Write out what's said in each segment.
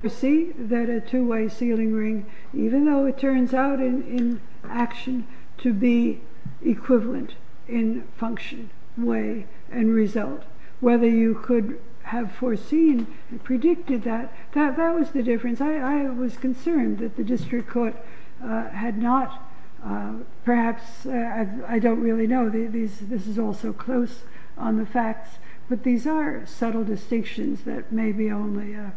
I foresee that a two-way sealing ring, even though it turns out in action, to be equivalent in function, way, and result. Whether you could have foreseen and predicted that, that was the difference. I was concerned that the District Court had not, perhaps, I don't really know, this is all so close on the facts, but these are subtle distinctions that maybe only a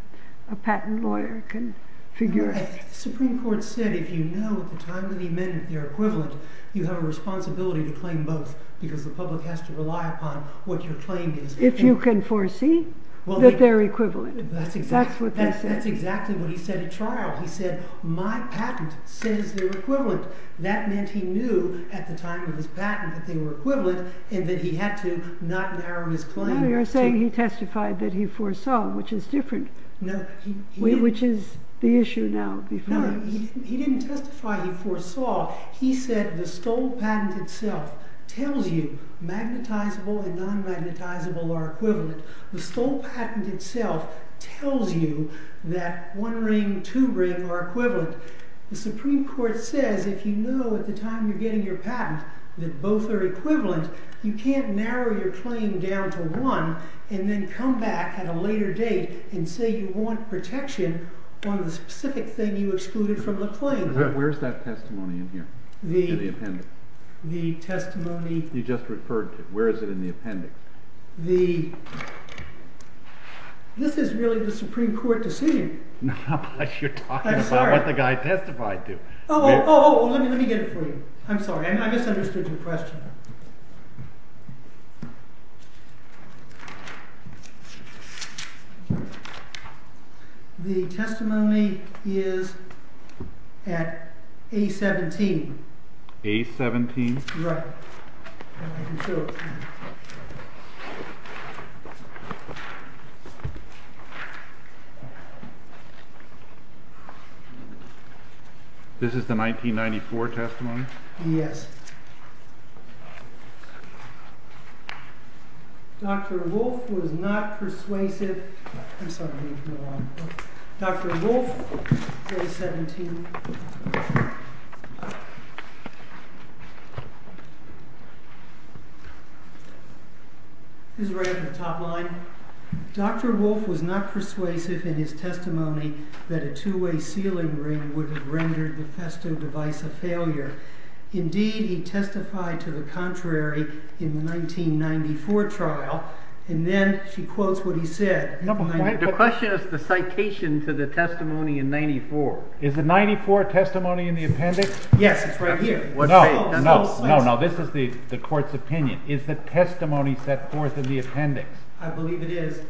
patent lawyer can figure out. The Supreme Court said if you know at the time of the amendment they're equivalent, you have a responsibility to claim both, because the public has to rely upon what your claim is. If you can foresee that they're equivalent. That's what they said. That's exactly what he said at trial. He said, my patent says they're equivalent. That meant he knew at the time of his patent that they were equivalent, and that he had to not narrow his claim. No, you're saying he testified that he foresaw, which is different, which is the issue now. No, he didn't testify he foresaw. He said the Stoll patent itself tells you magnetizable and non-magnetizable are equivalent. The Stoll patent itself tells you that one ring, two ring are equivalent. The Supreme Court says if you know at the time you're getting your patent that both are equivalent, you can't narrow your claim down to one and then come back at a later date and say you want protection on the specific thing you excluded from the claim. Where's that testimony in here? In the appendix? The testimony... You just referred to it. Where is it in the appendix? The... This is really the Supreme Court decision. No, but you're talking about what the guy testified to. Oh, oh, oh, let me get it for you. I'm sorry, I misunderstood your question. The testimony is at A-17. A-17? Right. This is the 1994 testimony? Yes. Dr. Wolf was not persuasive... I'm sorry, I need to move on. Dr. Wolf, A-17. This is right at the top line. Dr. Wolf was not persuasive in his testimony that a two-way sealing ring would have rendered the Festo device a failure. Indeed, he testified to the contrary in the 1994 trial, and then she quotes what he said. The question is the citation to the testimony in 94. Is it 94? The 1994 testimony in the appendix? Yes, it's right here. No, no, no, this is the court's opinion. Is the testimony set forth in the appendix? I believe it is.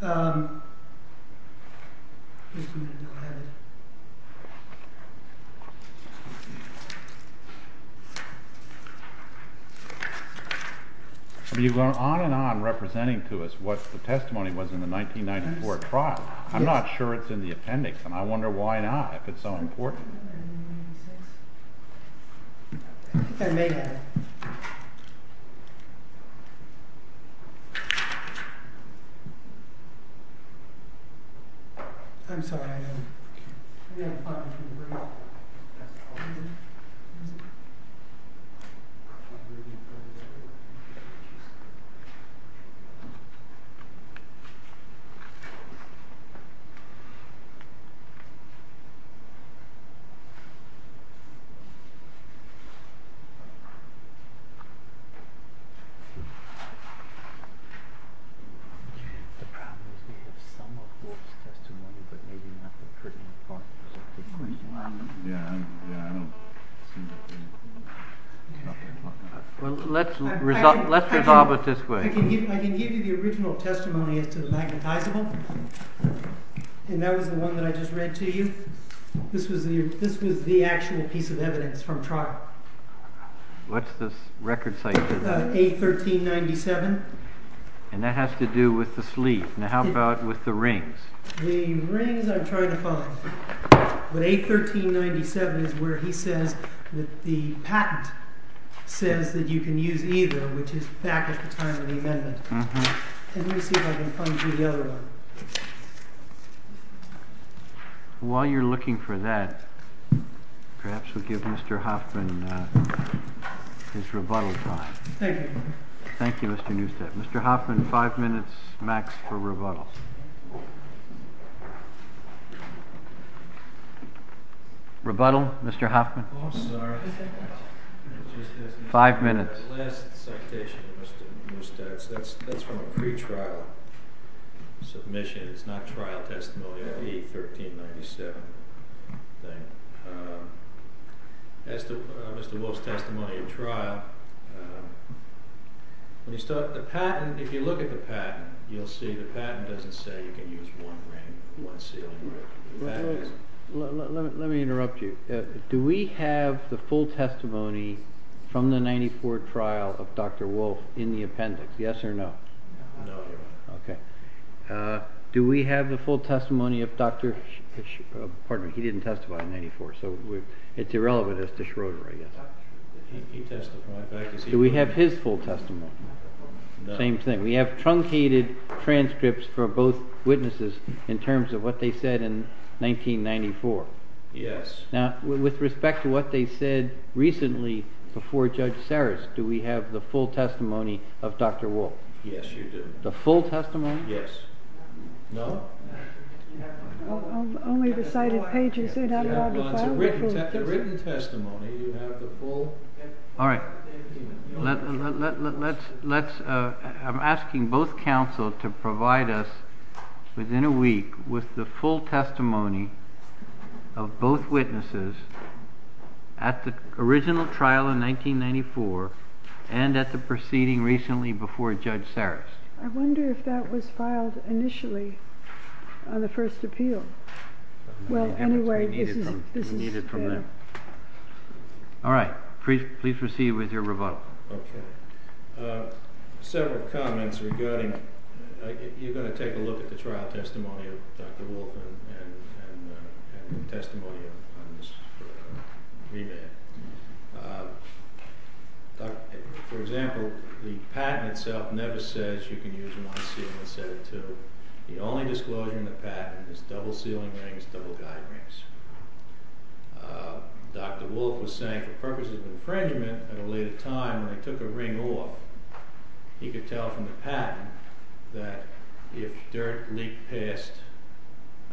Have you gone on and on representing to us what the testimony was in the 1994 trial? I'm not sure it's in the appendix, and I wonder why not, if it's so important. I think I may have it. I'm sorry, I don't... The problem is we have some of Wolf's testimony, but maybe not the critical part. Well, let's resolve it this way. I can give you the original testimony as to the magnetizable, and that was the one that I just read to you. This was the actual piece of evidence from trial. What's the record citation? A1397. And that has to do with the sleeve. Now how about with the rings? The rings I'm trying to find. But A1397 is where he says that the patent says that you can use either, which is back at the time of the amendment. Let me see if I can find you the other one. While you're looking for that, perhaps we'll give Mr. Hoffman his rebuttal time. Thank you. Thank you, Mr. Neustadt. Mr. Hoffman, five minutes max for rebuttal. Rebuttal, Mr. Hoffman. Oh, sorry. Five minutes. The last citation, Mr. Neustadt, that's from a pretrial submission. It's not trial testimony. It would be A1397. As to Mr. Wolf's testimony at trial, if you look at the patent, you'll see the patent doesn't say you can use one ring, one sealing ring. Let me interrupt you. Do we have the full testimony from the 1994 trial of Dr. Wolf in the appendix, yes or no? No. Do we have the full testimony of Dr. Schroeder? He didn't testify in 1994, so it's irrelevant as to Schroeder, I guess. He testified. Do we have his full testimony? No. Same thing. We have truncated transcripts for both witnesses in terms of what they said in 1994. Yes. Now, with respect to what they said recently before Judge Sarris, do we have the full testimony of Dr. Wolf? Yes, you do. The full testimony? Yes. No. Only the cited pages. It's a written testimony. All right. I'm asking both counsel to provide us within a week with the full testimony of both witnesses at the original trial in 1994 and at the proceeding recently before Judge Sarris. I wonder if that was filed initially on the first appeal. Well, anyway, this is— We need it from there. All right. Please proceed with your rebuttal. Okay. Several comments regarding—you're going to take a look at the trial testimony of Dr. Wolf and the testimony on this remand. For example, the patent itself never says you can use them on a ceiling instead of two. The only disclosure in the patent is double ceiling rings, double guide rings. Dr. Wolf was saying for purposes of infringement at a later time when they took a ring off, he could tell from the patent that if dirt leaked past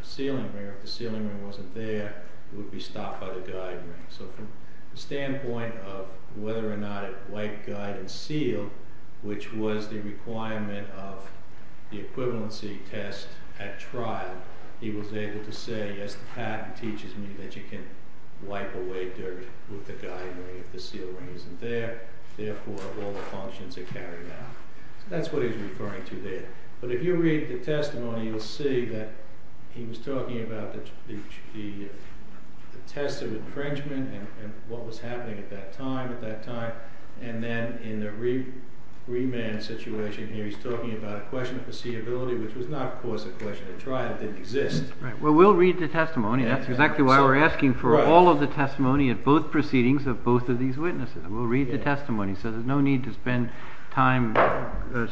a ceiling ring or if the ceiling ring wasn't there, it would be stopped by the guide ring. So from the standpoint of whether or not it wiped guide and sealed, which was the requirement of the equivalency test at trial, he was able to say, yes, the patent teaches me that you can wipe away dirt with the guide ring if the ceiling ring isn't there. Therefore, all the functions are carried out. That's what he's referring to there. But if you read the testimony, you'll see that he was talking about the test of infringement and what was happening at that time, at that time. And then in the remand situation here, he's talking about a question of foreseeability, which was not, of course, a question at trial. It didn't exist. Right. Well, we'll read the testimony. That's exactly why we're asking for all of the testimony at both proceedings of both of these witnesses. We'll read the testimony, so there's no need to spend time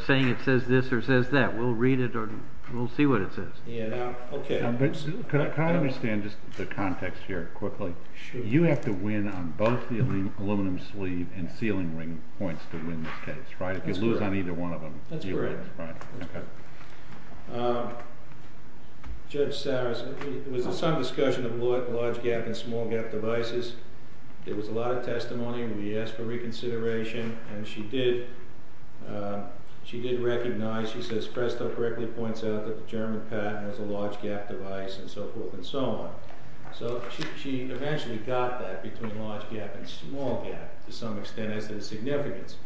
saying it says this or says that. We'll read it or we'll see what it says. Yeah. Now, OK. Can I understand just the context here quickly? You have to win on both the aluminum sleeve and ceiling ring points to win this case, right? If you lose on either one of them, you lose. That's correct. Judge Saris, it was some discussion of large gap and small gap devices. There was a lot of testimony. We asked for reconsideration, and she did. She did recognize. She says Presto correctly points out that the German patent was a large gap device and so forth and so on. So she eventually got that between large gap and small gap to some extent as a significance.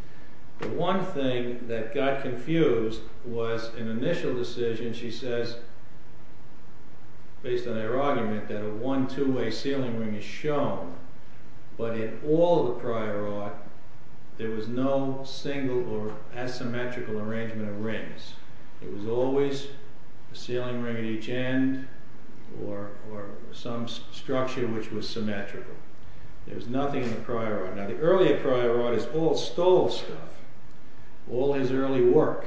The one thing that got confused was an initial decision. She says, based on her argument, that a one, two-way ceiling ring is shown. But in all the prior art, there was no single or asymmetrical arrangement of rings. It was always a ceiling ring at each end or some structure which was symmetrical. There was nothing in the prior art. Now, the earlier prior artists all stole stuff, all his early work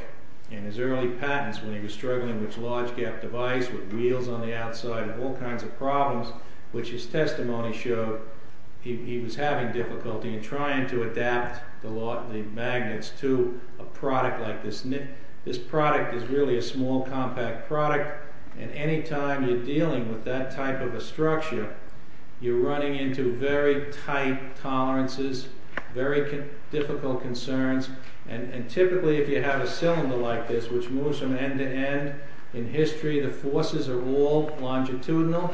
and his early patents when he was struggling with large gap device with wheels on the outside and all kinds of problems, which his testimony showed he was having difficulty in trying to adapt the magnets to a product like this. This product is really a small, compact product, and any time you're dealing with that type of a structure, you're running into very tight tolerances, very difficult concerns, and typically if you have a cylinder like this which moves from end to end, in history the forces are all longitudinal.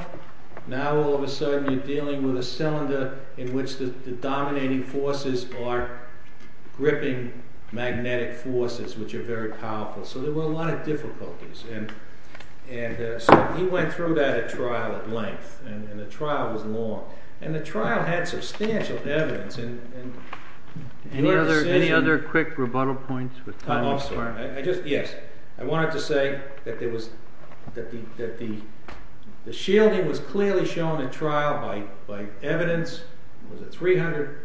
Now all of a sudden you're dealing with a cylinder in which the dominating forces are gripping magnetic forces, which are very powerful. So there were a lot of difficulties. And so he went through that trial at length, and the trial was long. And the trial had substantial evidence. Any other quick rebuttal points? I just wanted to say that the shielding was clearly shown in trial by evidence. It was a 300%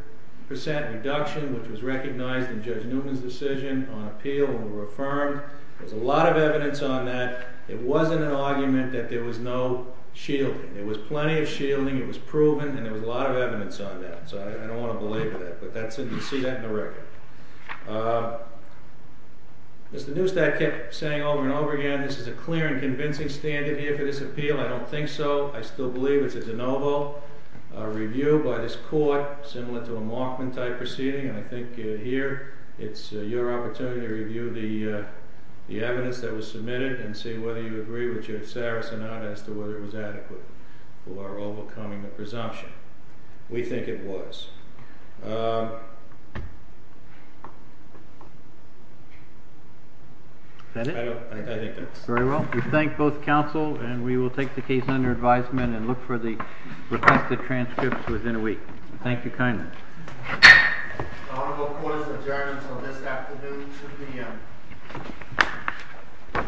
reduction, which was recognized in Judge Newton's decision on appeal and were affirmed. There was a lot of evidence on that. It wasn't an argument that there was no shielding. There was plenty of shielding. It was proven, and there was a lot of evidence on that. So I don't want to belabor that, but you see that in the record. As the Newstack kept saying over and over again, this is a clear and convincing standard here for this appeal. I don't think so. I still believe it's a de novo review by this court, similar to a Markman-type proceeding, and I think here it's your opportunity to review the evidence that was submitted and see whether you agree with Judge Saris or not as to whether it was adequate for overcoming the presumption. We think it was. That it? I think that's it. Very well. We thank both counsel, and we will take the case under advisement and look for the requested transcripts within a week. Thank you kindly. The honorable court is adjourned until this afternoon, 2 p.m.